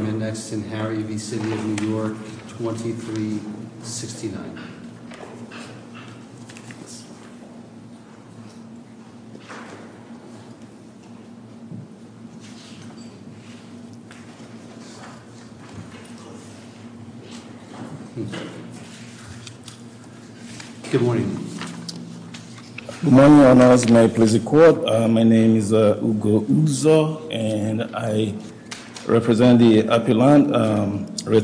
2369 Good morning Good morning, my name is Ugo Uzo and I represent the appealant. Here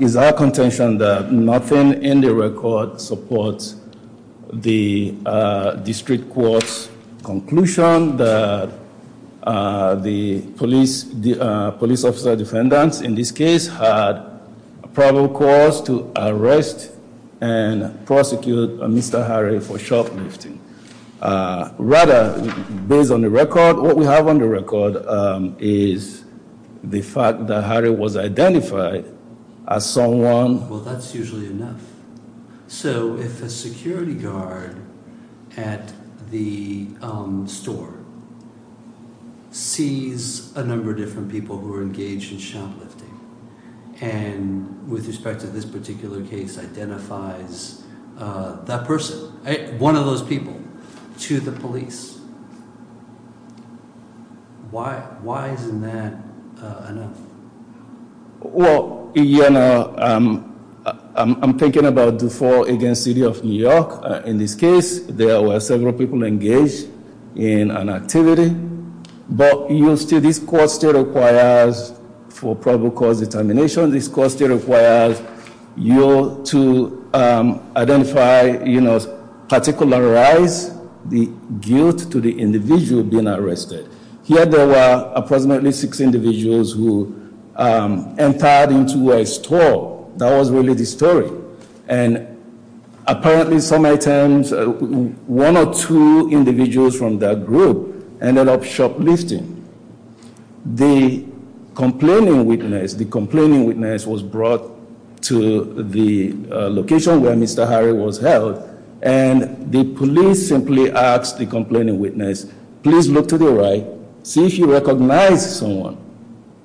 is our contention that nothing in the record supports the District Court's conclusion that the police officer defendants in this case had probable cause to arrest and prosecute Mr. Harry for shoplifting. Rather, based on the record, what we have on the record is the fact that Harry was identified as someone... Well, that's usually enough. So if a security guard at the store sees a number of different people who are engaged in shoplifting and with respect to this particular case identifies that person, one of those people, to the police, why isn't that enough? Well, you know, I'm thinking about DeFault against City of New York. In this case, there were several people engaged in an activity but this court still requires, for probable cause determination, this court still requires you to identify, you know, particularize the guilt to the individual being arrested. Here there were approximately six individuals who entered into a store. That was really the end of shoplifting. The complaining witness was brought to the location where Mr. Harry was held and the police simply asked the complaining witness, please look to the right, see if you recognize someone.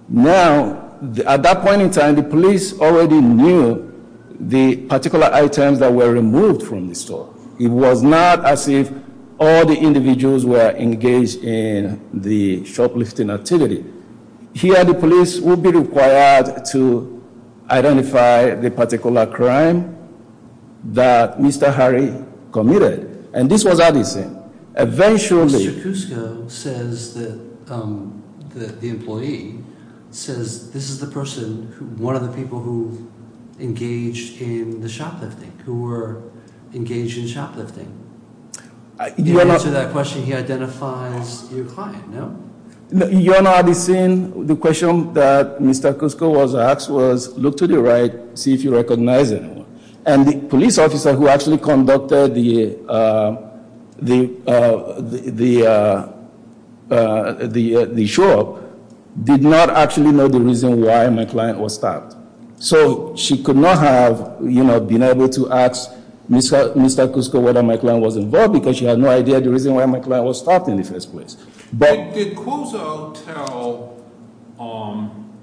Now, at that point in time, the police already knew the particular items that were removed from the store. It was not as if all the individuals were engaged in the shoplifting activity. Here the police would be required to identify the particular crime that Mr. Harry committed. And this was Addison. Eventually... Mr. Kuska says that the employee says this is the person, one of the people who engaged in the shoplifting, who were engaged in shoplifting. In answer to that question, he identifies your client, no? You and Addison, the question that Mr. Kuska was asked was look to the right, see if you recognize anyone. And the police officer who actually conducted the, uh, the, uh, the, uh, the show up did not actually know the reason why my client was stopped. So she could not have, you know, been able to ask Mr. Kuska whether my client was involved because she had no idea the reason why my client was stopped in the first place. But did Kuzo tell, um,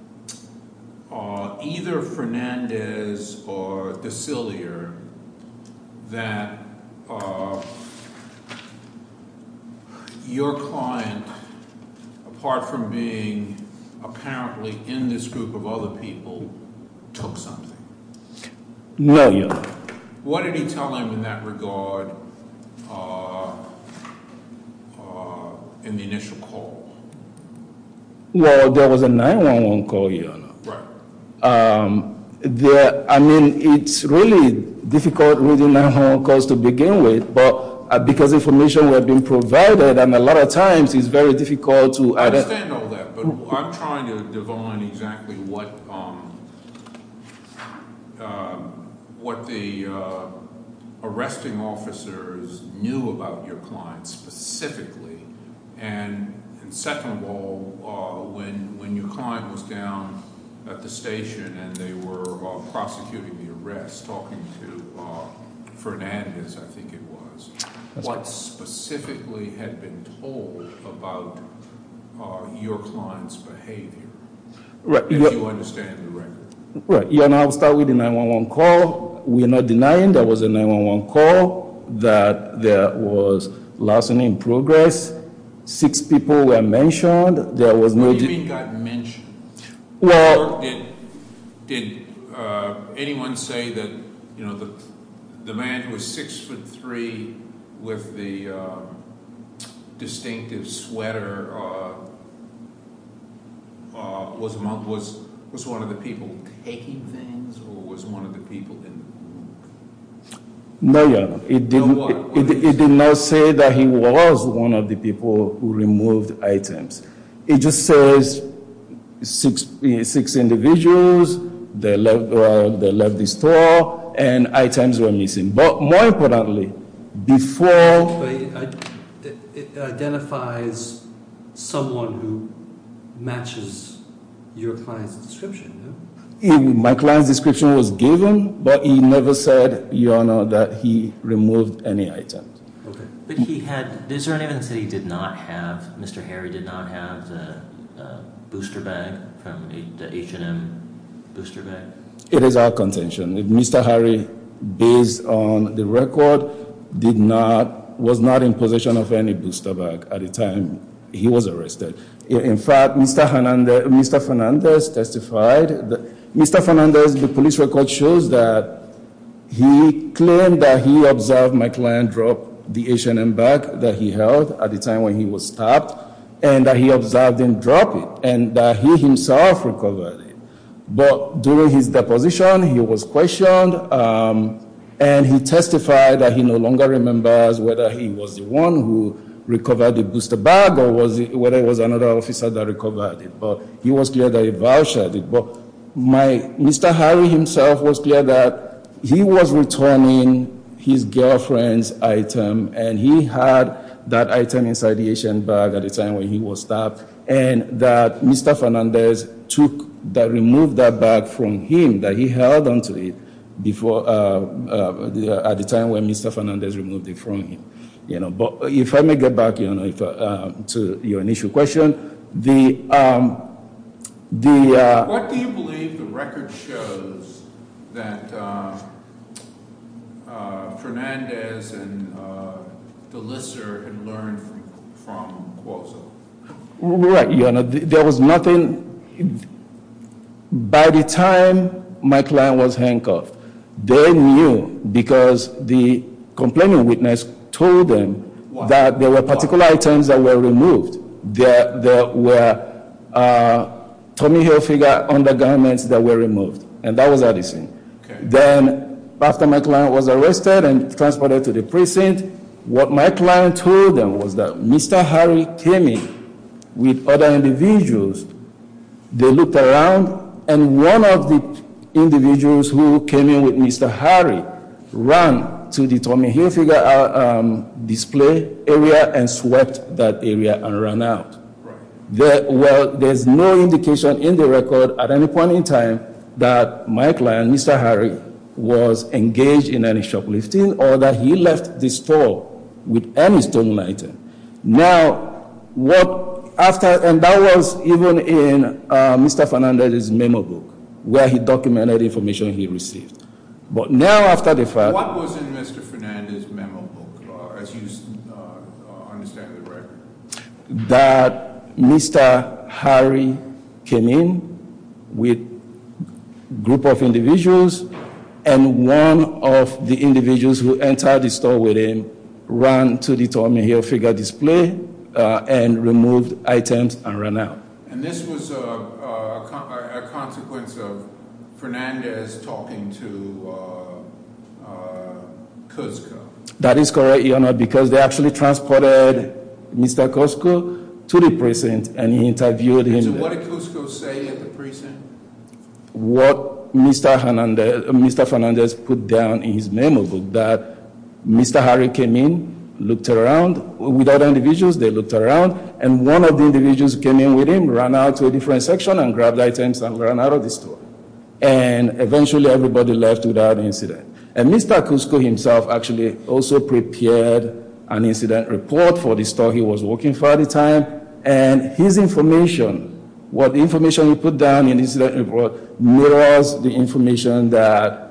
uh, either Fernandez or DeCillier that, uh, your client, apart from being apparently in this group of other people, took something? No, Your Honor. What did he tell him in that regard, uh, uh, in the initial call? Well, there was a 9-1-1 call, Your Honor. Right. Um, there, I mean, it's really difficult reading 9-1-1 calls to begin with, but because information had been provided and a lot of times it's very difficult to identify. I understand all that, but I'm trying to divine exactly what, um, uh, what the, uh, arresting officers knew about your client specifically. And second of all, uh, when, when your client was down at the station and they were, uh, prosecuting the arrest, talking to, uh, Fernandez, I think it was, what specifically had been told about, uh, your client's behavior? Right. If you understand the record. Right. Your Honor, I'll start with the 9-1-1 call. We're not denying there was a 9-1-1 call, that there was lawsuit in progress, six people were mentioned, there was no... What do you mean got mentioned? Well... Your Honor, did, did, uh, anyone say that, you know, the man who was six foot three with the, uh, distinctive sweater, uh, uh, was among, was, was one of the people taking things or was one of the people in the room? No, Your Honor. No, what? It did not say that he was one of the people who removed items. It just says six, six, six individuals, they left, uh, they left the store, and items were missing. But more importantly, before... But it identifies someone who matches your client's description, no? My client's description was given, but he never said, Your Honor, that he removed any items. Okay. But he had, is there any evidence that he did not have, Mr. Harry did not have the, uh, booster bag from the H&M booster bag? It is our contention that Mr. Harry, based on the record, did not, was not in possession of any booster bag at the time he was arrested. In fact, Mr. Hernandez, Mr. Hernandez testified that... Mr. Hernandez, the police record shows that he claimed that he observed my client drop the H&M bag that he held at the time when he was stopped, and that he observed him drop it, and that he himself recovered it. But during his deposition, he was questioned, um, and he testified that he no longer remembers whether he was the one who recovered the booster bag, or was it, whether it was another officer that recovered it. But he was clear that he vouched it. But my, Mr. Harry himself was clear that he was returning his girlfriend's item, and he had that item inside the H&M bag at the time when he was stopped, and that Mr. Hernandez took, that removed that bag from him, that he held onto it before, uh, at the time when Mr. Hernandez removed it from him. You know, but if I may get back, Your Honor, to your initial question, the, um, the, uh... What do you believe the record shows that, uh, uh, Fernandez and, uh, Delisser had learned from, from Cuozo? Right, Your Honor. There was nothing... By the time my client was handcuffed, they knew because the complaining witness told them that there were particular items that were removed, and that was Addison. Then, after my client was arrested and transported to the precinct, what my client told them was that Mr. Harry came in with other individuals. They looked around, and one of the individuals who came in with Mr. Harry ran to the Tommy Hilfiger, uh, um, display area and swept that area and ran out. Right. There, well, there's no indication in the record at any point in time that my client, Mr. Harry, was engaged in any shoplifting or that he left the store with any stolen item. Now, what, after, and that was even in, uh, Mr. Fernandez's memo book, where he documented information he received. But now, after the fact... What was in Mr. Fernandez's memo book, as you, uh, understand the record? That Mr. Harry came in with a group of individuals, and one of the individuals who entered the store with him ran to the Tommy Hilfiger display, uh, and removed items and ran out. And this was, uh, a consequence of Fernandez talking to, uh, uh, Kuzco? That is correct, Your Honor, because they actually transported Mr. Kuzco to the precinct and interviewed him. And so what did Kuzco say at the precinct? What Mr. Fernandez put down in his memo book, that Mr. Harry came in, looked around with other individuals, they looked around, and one of the individuals who came in with him ran out to a different section and grabbed items and ran out of the store. And eventually everybody left without incident. And Mr. Kuzco himself actually also prepared an incident report for the store he was working for at the time, and his information, what information he put down in the incident report was the information that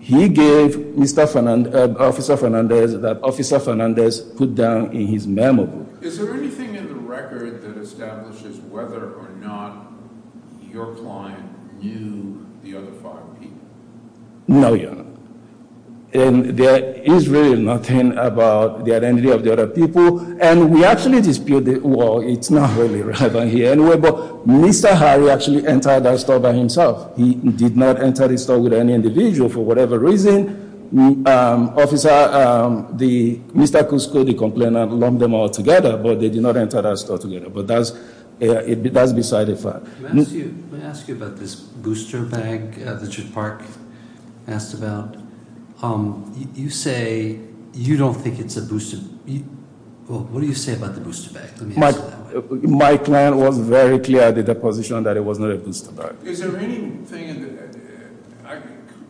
he gave Mr. Fernandez, uh, Officer Fernandez, that Officer Fernandez put down in his memo book. Is there anything in the record that establishes whether or not your client knew the other people? No, Your Honor. And there is really nothing about the identity of the other people. And we actually disputed, well, it's not really relevant here anyway, but Mr. Harry actually entered that store by himself. He did not enter the store with any individual for whatever reason. Um, Officer, um, the, Mr. Kuzco, the complainant, lumped them all together, but they did not enter that store together. But that's, that's beside the fact. Let me ask you about this booster bag that Judge Park asked about. Um, you say you don't think it's a booster bag. What do you say about the booster bag? My client was very clear at the deposition that it was not a booster bag. Is there anything,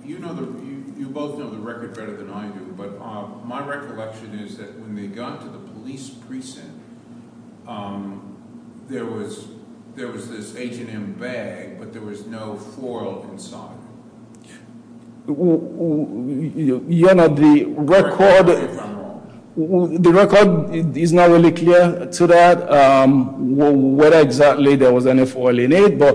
you know, you both know the record better than I do, but my recollection is that when they got to the police precinct, um, there was, there was this H&M bag, but there was no foil inside. Your Honor, the record, the record is not really clear to that, um, whether exactly there was any foil in it, but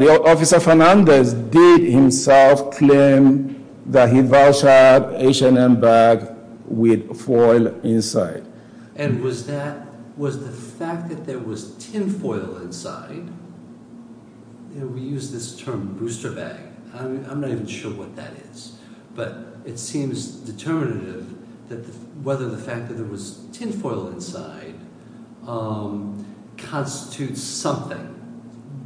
the Officer Fernandez did himself claim that he vouched that H&M bag with foil inside. And was that, was the fact that there was tin foil inside, you know, we use this term booster bag. I mean, I'm not even sure what that is, but it seems determinative that whether the fact that there was tin foil inside, um, constitutes something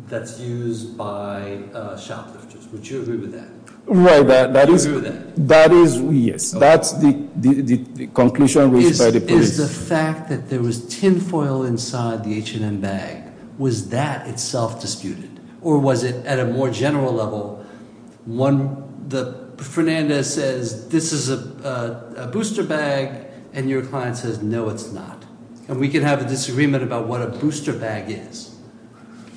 that's used by shoplifters. Would you agree with that? Right. Would you agree with that? That is, yes. That's the conclusion reached by the police. Is the fact that there was tin foil inside the H&M bag, was that itself disputed? Or was it at a more general level, one, the, Fernandez says this is a booster bag, and your client says, no, it's not. And we can have a disagreement about what a booster bag is.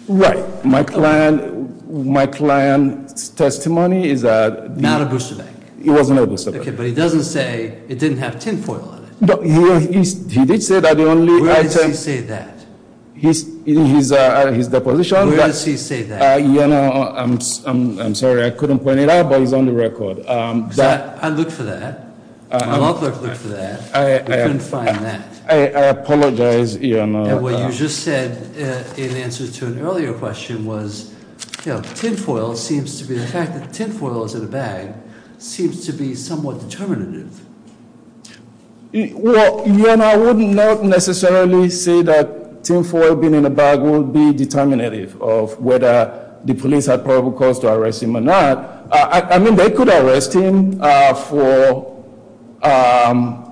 Right. My client, my client's testimony is that- Not a booster bag. It wasn't a booster bag. Okay, but he doesn't say it didn't have tin foil in it. No, he did say that the only item- Where does he say that? He's, in his deposition- Where does he say that? You know, I'm sorry, I couldn't point it out, but he's on the record. I looked for that. My law clerk looked for that. I couldn't find that. I apologize, you know. And what you just said in answer to an earlier question was, you know, tin foil seems to be, the fact that tin foil is in a bag, seems to be somewhat determinative. Well, you know, I would not necessarily say that tin foil being in a bag would be determinative of whether the police had probable cause to arrest him or not. I mean, they could arrest him for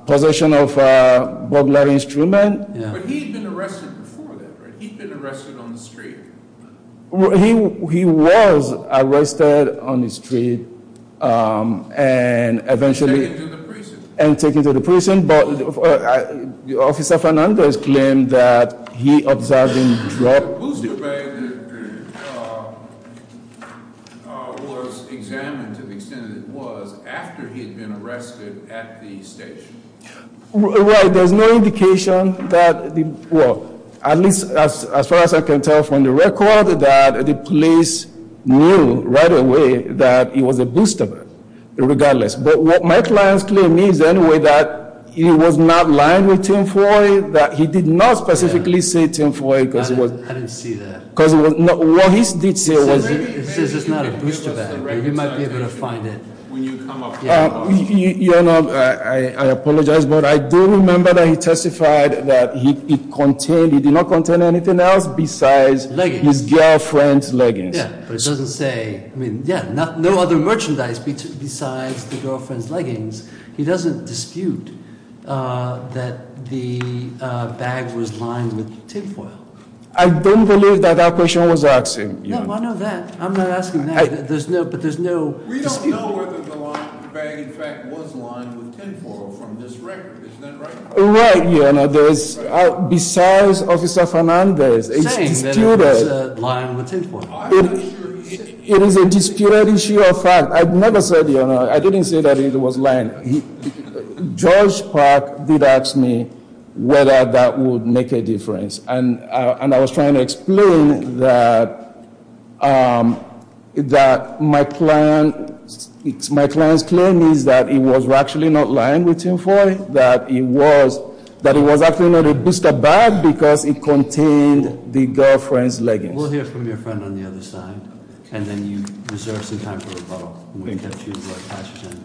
possession of a bug larry instrument. But he'd been arrested before that, right? He'd been arrested on the street. He was arrested on the street and eventually- And taken to the prison. And taken to the prison, but Officer Fernandez claimed that he observed him drop- The booster bag was examined to the extent that it was after he'd been arrested at the station. Right, there's no indication that, well, at least as far as I can tell from the record, that the police knew right away that it was a booster bag, regardless. But what Mike Lyons claimed means anyway that he was not lying with tin foil, that he did not specifically say tin foil because it was- I didn't see that. Because what he did say was- It says it's not a booster bag. You might be able to find it. When you come up- Your Honor, I apologize, but I do remember that he testified that he contained, he did not contain anything else besides- Leggings. His girlfriend's leggings. Yeah, but it doesn't say, I mean, yeah, no other merchandise besides the girlfriend's leggings. He doesn't dispute that the bag was lined with tin foil. I don't believe that that question was asked. No, I know that. I'm not asking that. But there's no- We don't know whether the bag, in fact, was lined with tin foil from this record. Isn't that right? Right, Your Honor. Besides Officer Fernandez, it's disputed- He's saying that it was lined with tin foil. I'm not sure he said- It is a disputed issue of fact. I've never said, Your Honor, I didn't say that it was lined. George Park did ask me whether that would make a difference. And I was trying to explain that my client's claim is that it was actually not lined with tin foil, that it was actually not a booster bag because it contained the girlfriend's leggings. We'll hear from your friend on the other side. And then you reserve some time for rebuttal.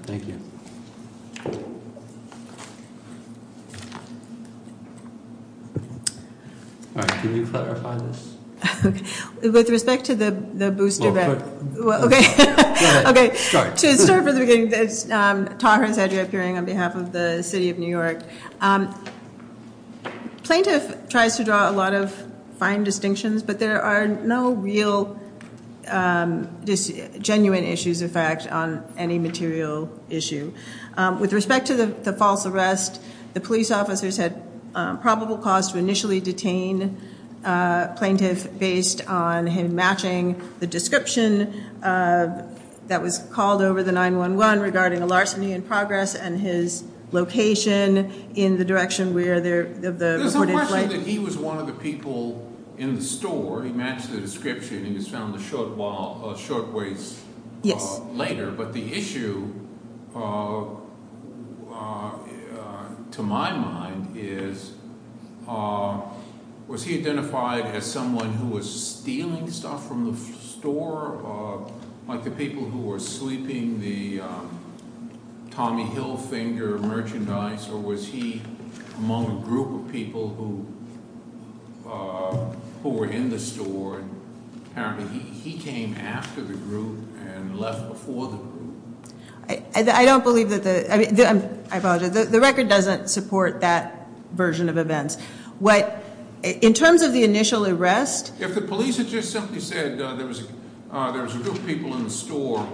Thank you. All right, can you clarify this? With respect to the booster bag- Well, go ahead. Okay. Go ahead. Start. To start from the beginning, this is Tara Sedgwick appearing on behalf of the City of New York. Plaintiff tries to draw a lot of fine distinctions, but there are no real genuine issues of fact on any material issue. With respect to the false arrest, the police officers had probable cause to initially detain a plaintiff based on him matching the description that was called over the 9-1-1 regarding a larceny in progress and his location in the direction where the- There's no question that he was one of the people in the store. He matched the description. He was found a short ways later. Yes. But the issue, to my mind, is was he identified as someone who was stealing stuff from the store? Like the people who were sleeping the Tommy Hilfinger merchandise? Or was he among a group of people who were in the store? Apparently he came after the group and left before the group. I don't believe that the- I apologize. The record doesn't support that version of events. In terms of the initial arrest- If the police had just simply said there was a group of people in the store,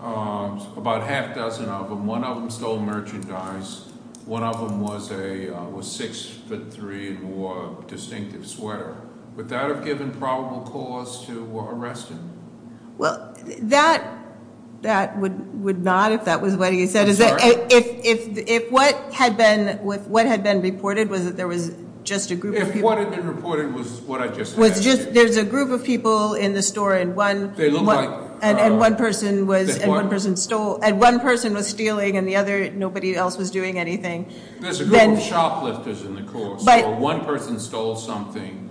about half a dozen of them, one of them stole merchandise, one of them was 6'3 and wore a distinctive sweater, would that have given probable cause to arrest him? Well, that would not if that was what he said. If what had been reported was that there was just a group of people- If what had been reported was what I just mentioned- There's a group of people in the store and one- They look like- And one person was stealing and the other, nobody else was doing anything. There's a group of shoplifters in the store. One person stole something,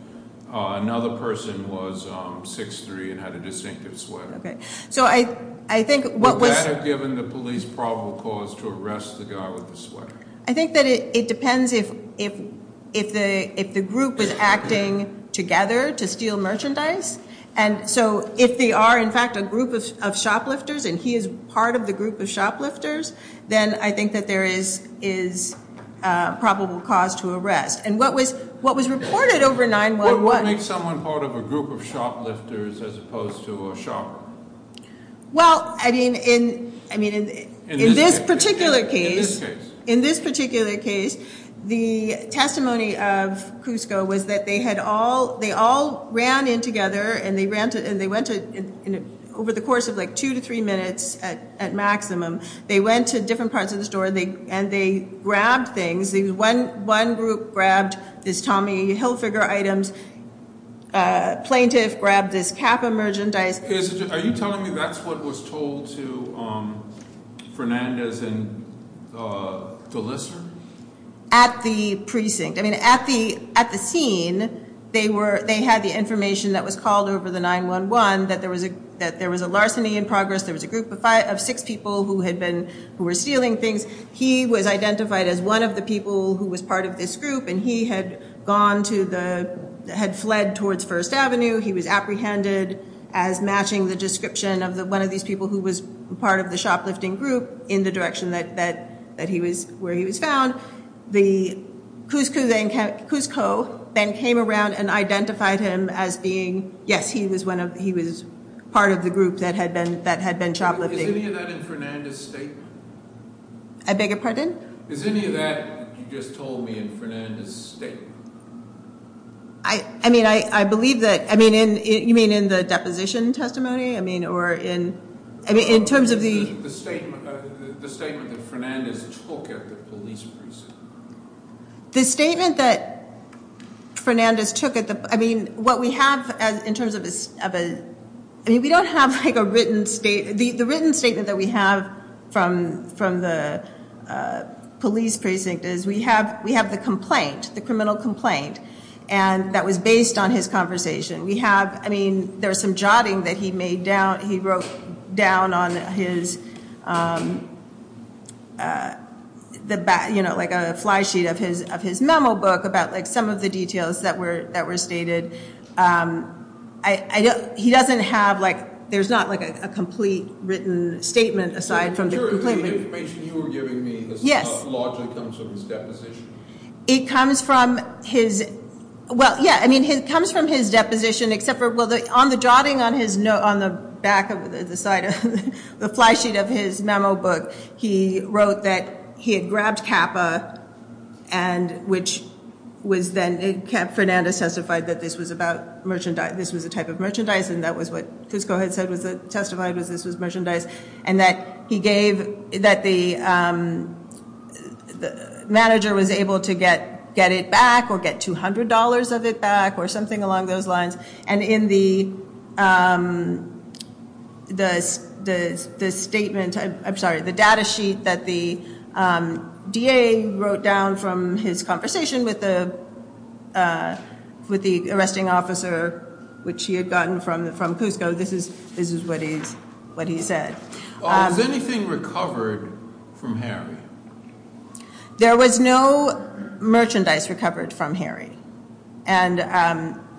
another person was 6'3 and had a distinctive sweater. Okay. So I think what was- Would that have given the police probable cause to arrest the guy with the sweater? I think that it depends if the group was acting together to steal merchandise. And so if they are in fact a group of shoplifters and he is part of the group of shoplifters, then I think that there is probable cause to arrest. And what was reported over 9-1-1- What would make someone part of a group of shoplifters as opposed to a shopper? Well, I mean, in this particular case- In this case. In this particular case, the testimony of Cusco was that they had all- They all ran in together and they went to- Over the course of like two to three minutes at maximum, they went to different parts of the store and they grabbed things. One group grabbed this Tommy Hilfiger item. A plaintiff grabbed this cap of merchandise. Are you telling me that's what was told to Fernandez and Gillespie? At the precinct. I mean, at the scene, they had the information that was called over the 9-1-1 that there was a larceny in progress. There was a group of six people who had been- Who were stealing things. He was identified as one of the people who was part of this group. And he had gone to the- Had fled towards First Avenue. He was apprehended as matching the description of one of these people who was part of the shoplifting group in the direction that he was- Where he was found. The- Cusco then came around and identified him as being- Is any of that in Fernandez's statement? I beg your pardon? Is any of that you just told me in Fernandez's statement? I mean, I believe that- You mean in the deposition testimony? I mean, or in- In terms of the- The statement that Fernandez took at the police precinct. The statement that Fernandez took at the- I mean, what we have in terms of a- The written statement that we have from the police precinct is- We have the complaint. The criminal complaint. And that was based on his conversation. We have- I mean, there was some jotting that he made down- He wrote down on his- Like a flysheet of his memo book about some of the details that were stated. He doesn't have- He doesn't have a written statement aside from the complaint. Are you sure the information you were giving me- Yes. Largely comes from his deposition? It comes from his- Well, yeah. I mean, it comes from his deposition except for- Well, on the jotting on his- On the back of the side of- The flysheet of his memo book. He wrote that he had grabbed CAPA. And which was then- Fernandez testified that this was about merchandise. This was a type of merchandise. And that was what Cusco had said was- And that he gave- That the manager was able to get it back. Or get $200 of it back. Or something along those lines. And in the statement- I'm sorry. The data sheet that the DA wrote down from his conversation with the- With the arresting officer. Which he had gotten from Cusco. So this is what he said. Was anything recovered from Harry? There was no merchandise recovered from Harry. And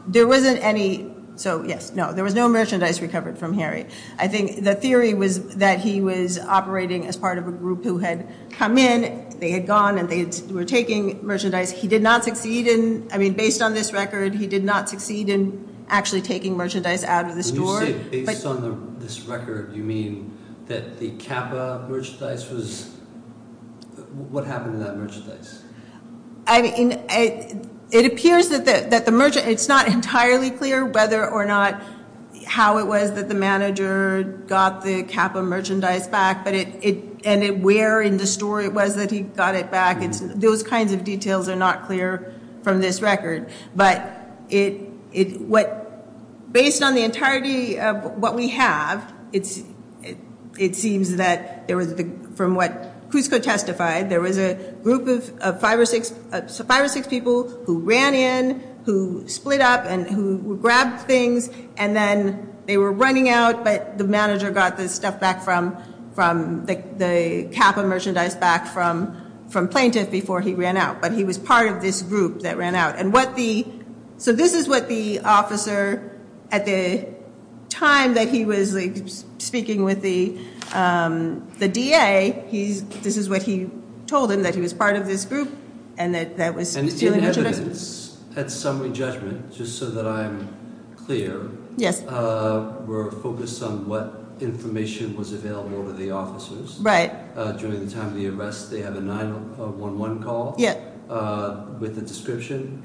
there wasn't any- So, yes. No. There was no merchandise recovered from Harry. I think the theory was that he was operating as part of a group who had come in. They had gone and they were taking merchandise. He did not succeed in- I mean, based on this record, he did not succeed in actually taking merchandise out of the store. Based on this record, you mean that the CAPA merchandise was- What happened to that merchandise? I mean, it appears that the- It's not entirely clear whether or not- How it was that the manager got the CAPA merchandise back. But it- And where in the store it was that he got it back. Those kinds of details are not clear from this record. But based on the entirety of what we have, it seems that there was- From what Cusco testified, there was a group of five or six people who ran in, who split up, and who grabbed things. And then they were running out, but the manager got the stuff back from- The CAPA merchandise back from plaintiff before he ran out. But he was part of this group that ran out. And what the- So this is what the officer, at the time that he was speaking with the DA, this is what he told him, that he was part of this group, and that was- And in evidence, at summary judgment, just so that I'm clear, we're focused on what information was available to the officers. During the time of the arrest, they have a 911 call with a description.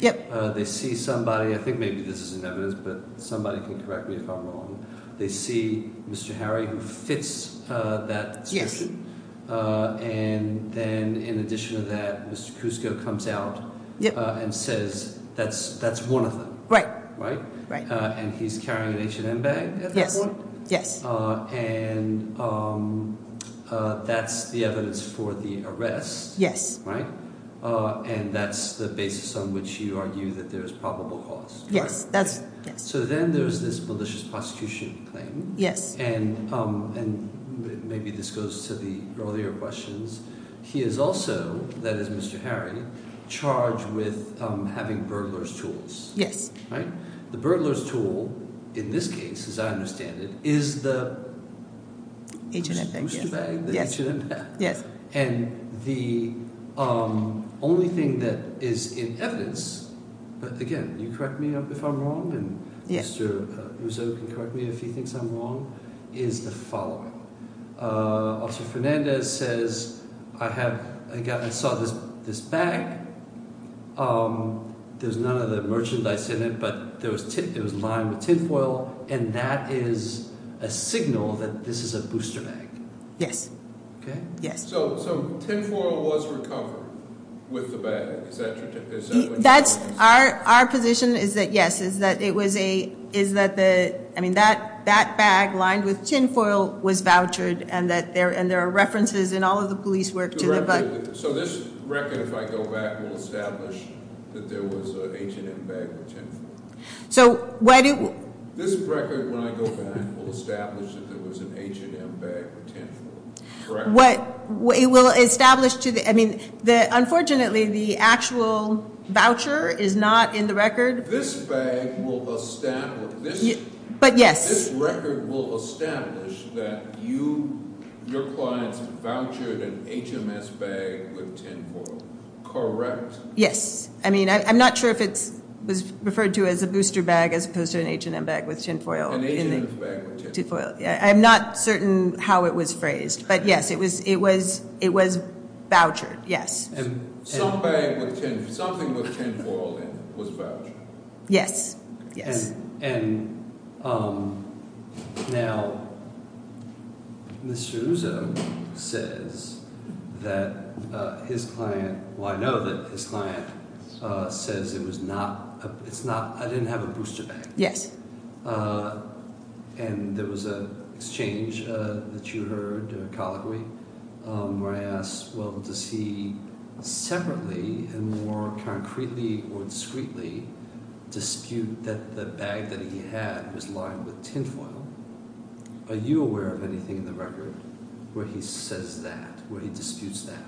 They see somebody- I think maybe this is in evidence, but somebody can correct me if I'm wrong. They see Mr. Harry, who fits that description. And then in addition to that, Mr. Cusco comes out and says, that's one of them. And he's carrying an H&M bag at that point. And that's the evidence for the arrest. Right? And that's the basis on which you argue that there's probable cause. Yes, that's- So then there's this malicious prosecution claim. And maybe this goes to the earlier questions. He is also, that is Mr. Harry, charged with having burglar's tools. Yes. The burglar's tool, in this case, as I understand it, is the- H&M bag, yes. The H&M bag. And the only thing that is in evidence, but again, you correct me if I'm wrong, and Mr. Rousseau can correct me if he thinks I'm wrong, is the following. Officer Fernandez says, I saw this bag, there's none of the merchandise in it, but there was lime with tinfoil, and that is a signal that this is a booster bag. Yes. Okay. Yes. So tinfoil was recovered with the bag? That's, our position is that yes, is that it was a, is that the, I mean that bag lined with tinfoil was vouchered, and there are references in all of the police work to the bag. So this record, if I go back, will establish that there was a H&M bag with tinfoil. So why do- This record, when I go back, will establish that there was an H&M bag with tinfoil. Correct? It will establish to the, I mean, unfortunately the actual voucher is not in the record. This bag will establish, But yes. This record will establish that you, your clients vouchered an H&M bag with tinfoil. Correct? Yes. I mean, I'm not sure if it was referred to as a booster bag as opposed to an H&M bag with tinfoil. An H&M bag with tinfoil. I'm not certain how it was phrased, but yes, it was, it was, it was vouchered. Yes. Some bag with tinfoil, something with tinfoil in it was vouchered. Yes. Yes. And, and, now, Mr. Uzum says that his client, well I know that his client says it was not, it's not, I didn't have a booster bag. Yes. And there was an exchange that you heard, a colloquy, where I asked, well, does he separately, and more concretely or discreetly, dispute that the bag that he had was lined with tinfoil? Are you aware of anything in the record where he says that, where he disputes that?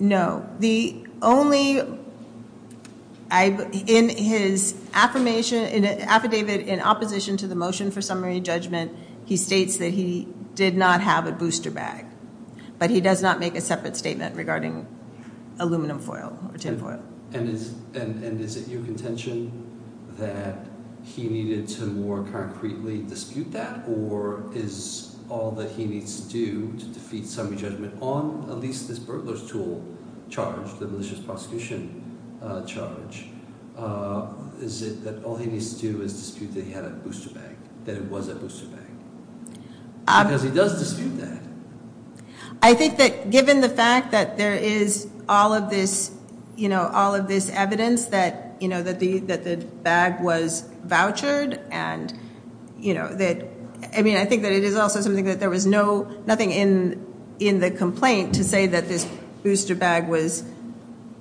No. The only, I, in his affirmation, affidavit in opposition to the motion for summary judgment, he states that he did not have a booster bag. But he does not make a separate statement regarding aluminum foil or tinfoil. And is, and is it your contention that he needed to more concretely dispute that? Or is all that he needs to do to defeat summary judgment on, at least this burglars tool charge, the malicious prosecution charge, is it that all he needs to do is dispute that he had a booster bag? That it was a booster bag? Because he does dispute that. I think that given the fact that there is all of this, you know, all of this evidence that, you know, that the, that the bag was vouchered, and, you know, that, I mean, I think that it is also something that there was no, nothing in, in the complaint to say that this booster bag was,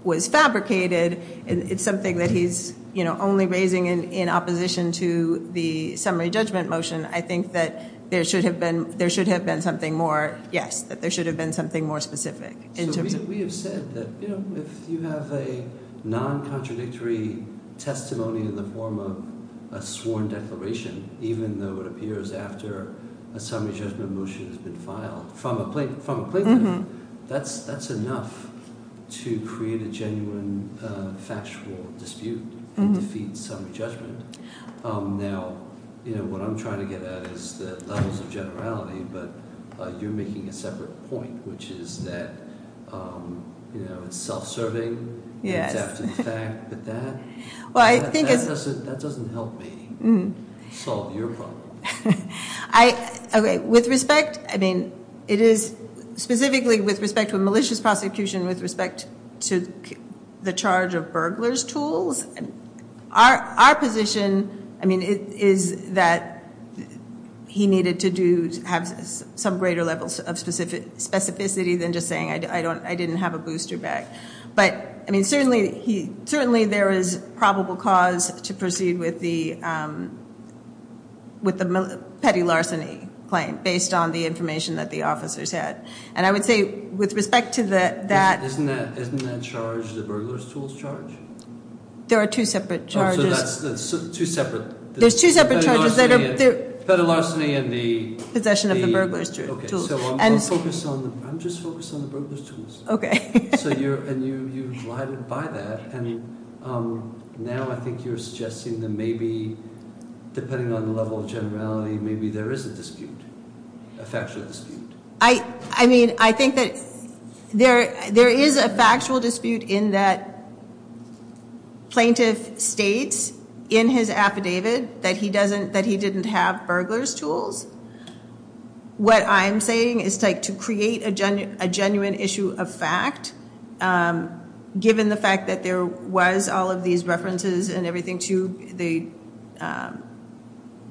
was fabricated. It's something that he's, you know, only raising in, in opposition to the summary judgment motion. I think that there should have been, there should have been something more, yes, that there should have been something more specific in terms of... So we have said that, you know, if you have a non-contradictory testimony in the form of a sworn declaration, even though it appears after a summary judgment motion has been filed from a, from a plaintiff, that's, that's enough to create a genuine factual dispute and defeat summary judgment. Now, you know, what I'm trying to get at is the levels of generality, but you're making a separate point, which is that, you know, it's self-serving, it's after the fact, but that, that doesn't, that doesn't help me solve your problem. I, okay, with respect, I mean, it is, specifically with respect to a malicious prosecution, with respect to the charge of burglar's tools, our, our position, I mean, is that he needed to do, have some greater levels of specificity than just saying I don't, I didn't have a booster bag. But, I mean, certainly he, certainly there is probable cause to proceed with the, with the petty larceny claim, based on the information that the officers had. And I would say, with respect to that, Isn't that, isn't that charged, the burglar's tools charge? There are two separate charges. There's two separate charges that are, Petty larceny and the possession of the burglar's tools. Okay, so I'm focused on, I'm just focused on the burglar's tools. Okay. So you're, and you, you glided by that, and now I think you're suggesting that maybe, depending on the level of generality, maybe there is a dispute. A factual dispute. I, I mean, I think that there, there is a factual dispute in that plaintiff states in his affidavit that he doesn't, that he didn't have burglar's tools. What I'm saying is to create a genuine, a genuine issue of fact, given the fact that there was all of these references and everything to the,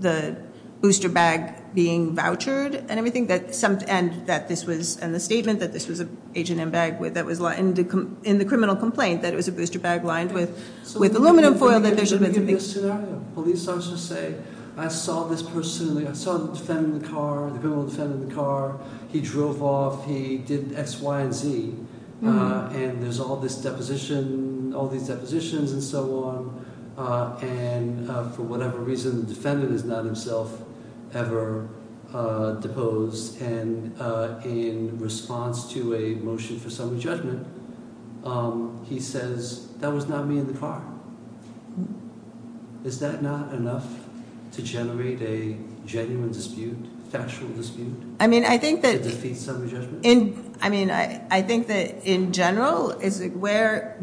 the booster bag being vouchered and everything that, and that this was, and the statement that this was an H&M bag that was, in the criminal complaint, that it was a booster bag lined with, with aluminum foil, that there should have been something. So let me give you a scenario. Police officer say, I saw this person, I saw the defendant in the car, the criminal defendant in the car, he drove off, he did X, Y, and Z, and there's all this deposition, all these depositions and so on, and for whatever reason, the defendant is not himself ever deposed, and in response to a motion for summary judgment, he says, that was not me in the car. Is that not enough to generate a genuine dispute, factual dispute? I mean, I think that, I mean, I think that in general is where,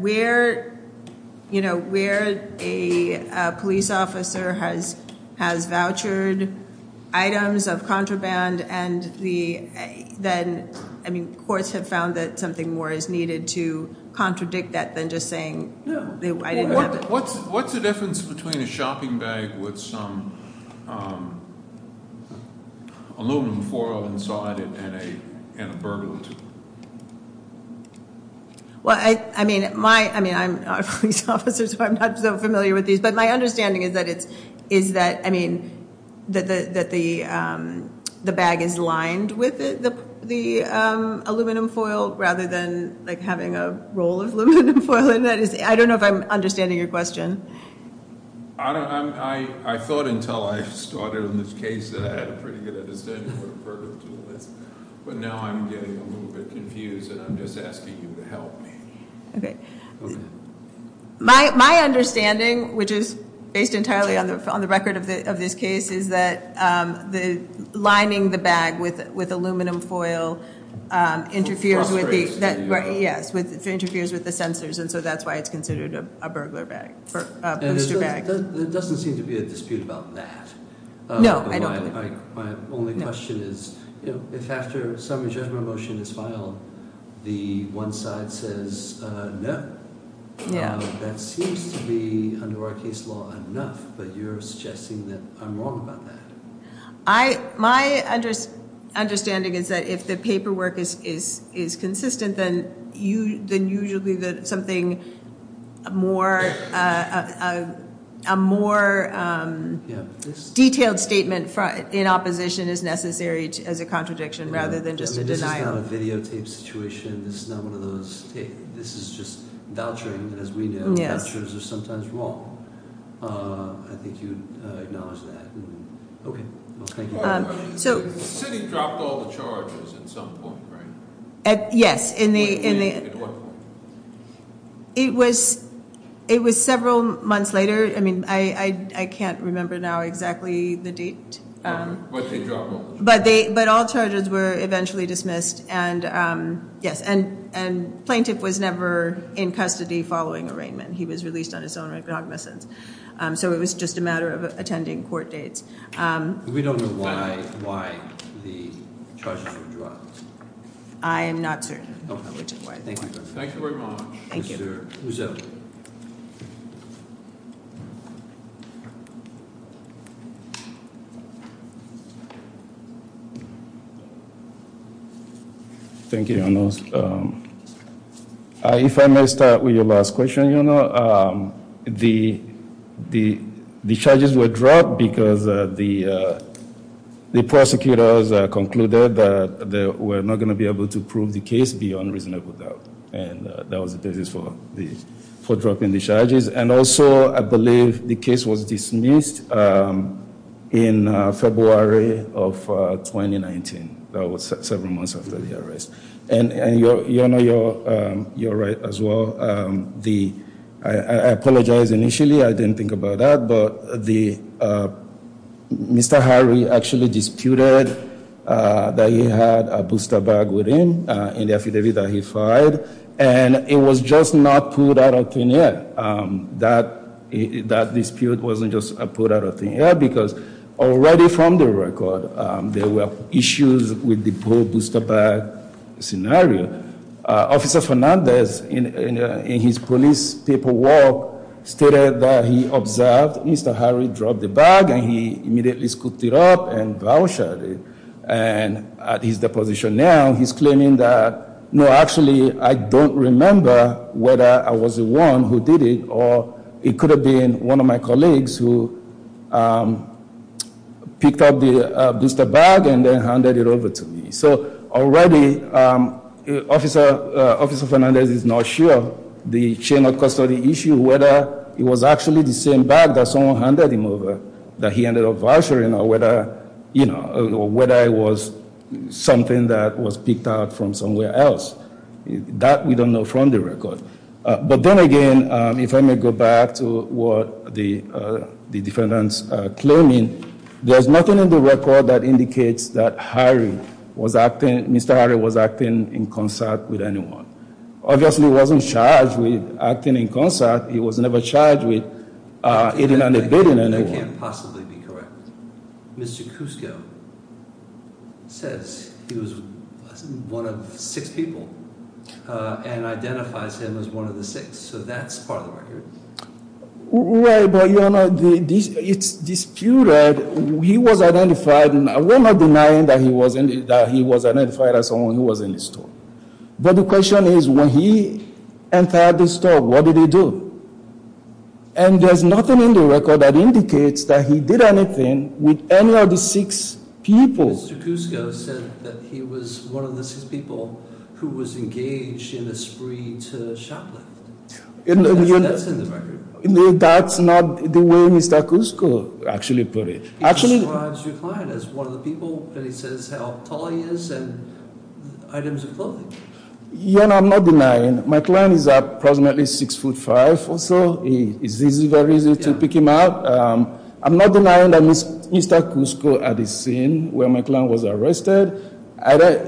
you know, where a police officer has vouchered items of contraband, and the, then, I mean, courts have found that something more is needed to contradict that than just saying, I didn't have it. What's the difference between a shopping bag with some aluminum foil inside it and a burglary? Well, I mean, my, I mean, I'm a police officer, so I'm not so familiar with these, but my understanding is that it's, is that, I mean, that the bag is lined with the aluminum foil rather than like having a roll of aluminum foil in it. I don't know if I'm understanding your question. I thought until I started on this case that I had a pretty good understanding of what a burglary tool is, but now I'm getting a little bit confused and I'm just asking you to help me. Okay. My understanding, which is based entirely on the record of this case, is that the lining the bag with aluminum foil interferes with the, yes, interferes with the sensors, and so that's why it's considered a burglar bag, a booster bag. And there doesn't seem to be a dispute about that. No, I don't. My only question is, you know, if after a summary judgment motion is filed, the one side says no. Yeah. That seems to be, under our case law, enough, but you're suggesting that I'm wrong about that. I, my understanding is that if the paperwork is consistent, then you, then usually that something more, a more detailed statement in opposition is necessary as a contradiction rather than just a denial. This is not a videotape situation. This is not one of those, this is just vouchering, and as we know, vouchers are sometimes wrong. I think you'd acknowledge that. Okay. Thank you. So... The city dropped all the charges at some point, right? Yes, in the... At what point? It was, it was several months later. I mean, I can't remember now exactly the date. But they dropped all the charges. But all charges were eventually dismissed, and yes, and Plaintiff was never in custody following arraignment. He was released on his own recognizance. So it was just a matter of attending court dates. We don't know why the charges were dropped. I am not certain. Thank you very much. Thank you. Thank you. Thank you. If I may start with your last question, the charges were dropped because the prosecutors concluded that they were not going to be able to prove the case beyond reasonable doubt. And that was the basis for dropping the charges. And also, I believe the case was dismissed in February of 2019. That was several months after the arrest. And you're right as well. The... I apologize initially. I didn't think about that. But the... Mr. Harry actually disputed that he had a booster bag within, in the affidavit that he filed. And it was just not put out of clear. That dispute wasn't just put out of clear because already from the record, there were issues with the poor booster bag scenario. Officer Fernandez, in his police paperwork, stated that he observed Mr. Harry drop the bag and he immediately scooped it up and bow-shot it. And at his deposition now, he's claiming that, no, actually, I don't remember whether I was the one who did it or it could have been one of my colleagues who picked up the booster bag and then handed it over to me. So, already, Officer Fernandez is not sure. The chain of custody issue, whether it was actually the same bag that someone handed him over that he ended up vouchering or whether, you know, whether it was something that was picked out from somewhere else. That, we don't know from the record. If I may go back to what the defendants are claiming, there's nothing in the record that indicates that Harry was acting, Mr. Harry was acting in concert with anyone. Obviously, he wasn't charged with acting in concert. He was never charged with eating and debating anyone. I can't possibly be correct. Mr. Cusco says he was one of six people and identifies him as one of the six. So, that's part of the record. It's disputed. He was identified and we're not denying that he was identified as someone who was in the store. But the question is when he entered the store, what did he do? And there's nothing in the record that indicates that he did anything with any of the six people. Mr. Cusco said that he was one of the six people who was engaged in a spree to shoplift. That's in the record. That's not the way Mr. Cusco actually put it. He describes your client as one of the people and he says how tall he is and items of clothing. I'm not denying. My client is approximately six foot five or so. It's very easy to pick him out. I'm not denying that Mr. Cusco at the scene where my client was arrested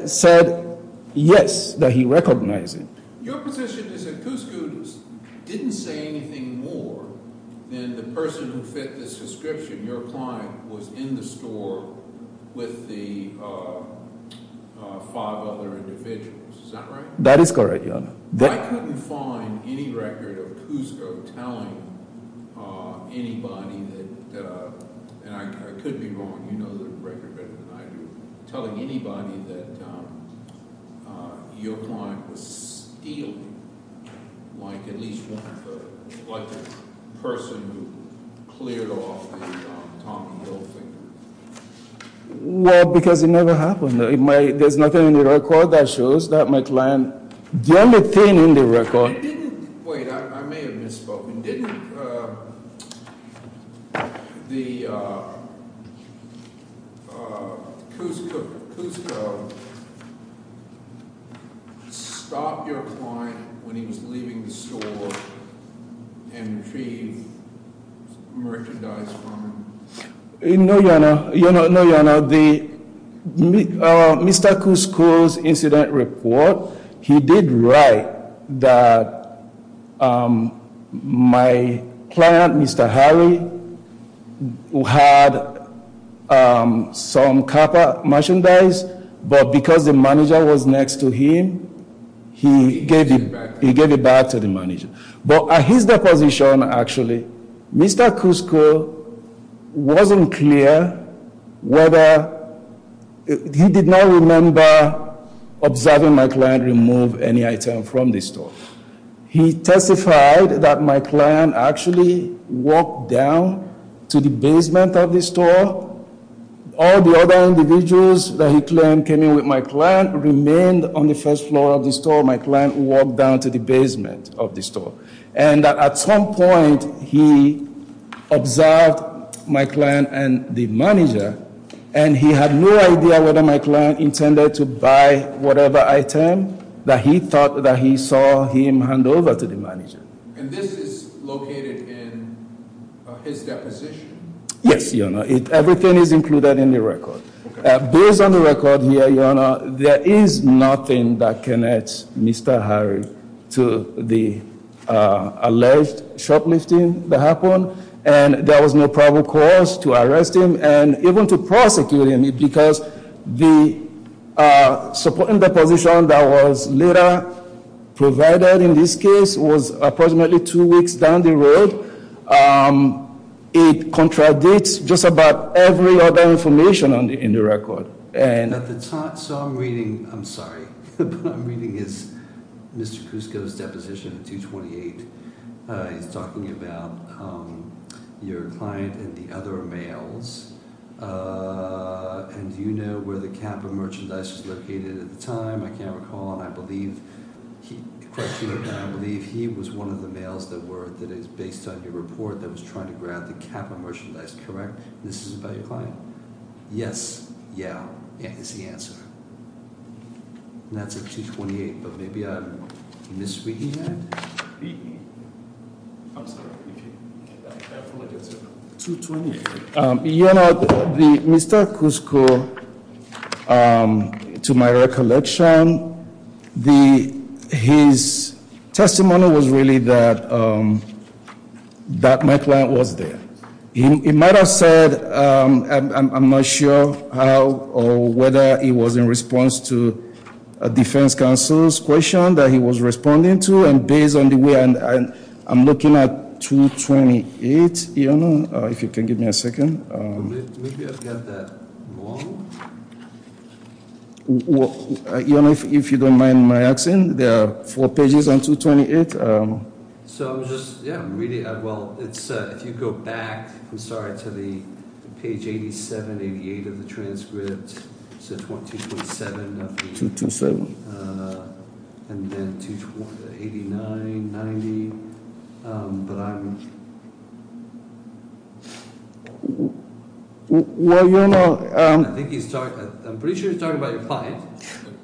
said yes that he recognized him. Your position is that Cusco didn't say anything more than the person who fit this description, your client, was in the store with the five other individuals. Is that right? That is correct, Your Honor. I couldn't find any record of Cusco telling anybody that, and I could be wrong, you know the record better than I do, telling anybody that your client was stealing like at least one of the like a person who cleared off the Tommy Hilfiger. Well, because it never happened. There's nothing in the record that shows that my client did anything in the record. Wait, I may have misspoken. Didn't the Cusco stop your client when he was leaving the store and retrieve merchandise from him? No, Your Honor. No, Your Honor. Mr. Cusco's incident report, he did write that my client, Mr. Harry, had some copper merchandise but because the manager was next to him, he gave it back to the manager. But at his deposition, actually, Mr. Cusco wasn't clear whether he did not remember observing my client remove any item from the store. He testified that my client actually walked down to the basement of the store. All the other individuals that he claimed came in with my client remained on the first floor of the store. My client walked down to the basement of the store. And at some point he observed my client and the manager, and he had no idea whether my client intended to buy whatever item that he thought that he saw him hand over to the manager. And this is located in his deposition? Yes, Your Honor. Everything is included in the record. Based on the record here, Your Honor, there is nothing that connects Mr. Harry to the alleged shoplifting that happened, and there was no probable cause to arrest him and even to prosecute him because the position that was later provided in this case was approximately two weeks down the road. It contradicts just about every other information in the record. So I'm reading, I'm sorry, but I'm reading Mr. Kusko's deposition 228. He's talking about your client and the other males. And do you know where the cap of merchandise was located at the time? I can't recall, and I believe he was one of the males that is based on your report that was trying to grab the cap of merchandise, correct? This is about your client? Yes. Yeah, is the answer. And that's at 228. But maybe I'm misreading that? I'm sorry. I apologize. You know, Mr. Kusko, to my recollection, his testimony was really that my client was there. He might have said I'm not sure how or whether he was in response to a defense counsel's question that he was responding to and based on the way I'm looking at 228. I don't know if you can give me a second. Maybe I've got that wrong? If you don't mind my accent, there are four pages on 228. So I'm just, yeah, really, well, if you go back, I'm sorry, to the page 87, 88 of the transcript. So 227. 227. And then 89, 90. But I'm... Well, you know... I think he's talking... I'm pretty sure he's talking about your client.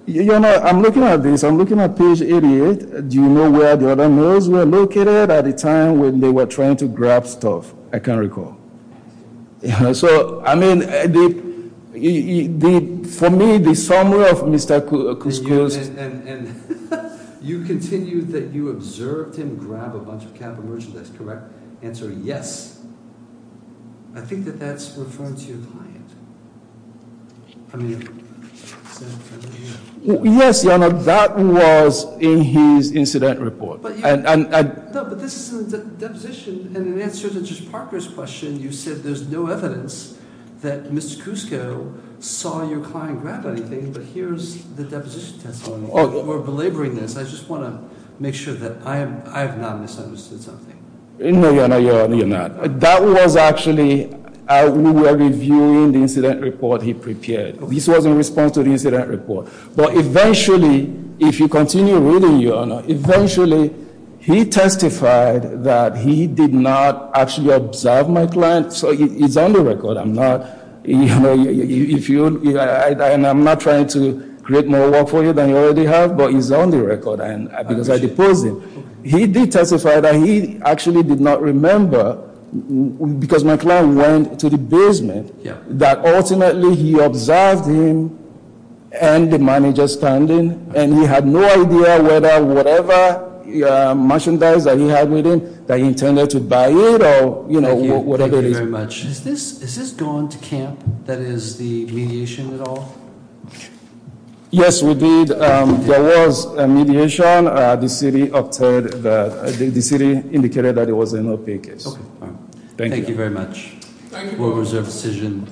I'm looking at this. I'm looking at page 88. Do you know where the other males were located at the time when they were trying to grab stuff? I can't recall. So, I mean, for me, the summary of Mr. Kusko's... You continue that you observed him grab a bunch of cap and merchandise, correct? Answer, yes. I think that that's referring to your client. I mean... Yes, Your Honor, that was in his incident report. No, but this is a deposition and in answer to Judge Parker's question, you said there's no evidence that Mr. Kusko saw your client grab anything, but here's the deposition testimony. We're belaboring this. I just want to make sure that I have not misunderstood something. No, Your Honor, you're not. That was actually... We were reviewing the incident report he prepared. This was in response to the incident report. But eventually, if you continue reading, Your Honor, eventually he testified that he did not actually observe my client, so it's on the record. I'm not... I'm not trying to create more work for you than you already have, but it's on the record because I deposed him. He did testify that he actually did not remember because my client went to the basement, that ultimately he observed him and the manager standing, and he had no idea whether whatever merchandise that he had with him that he intended to buy it or whatever it is. Thank you very much. Is this going to camp, that is, the mediation at all? Yes, we did. There was a mediation. The city obtained... The city indicated that it was a no-pay case. Thank you. Thank you very much. Thank you.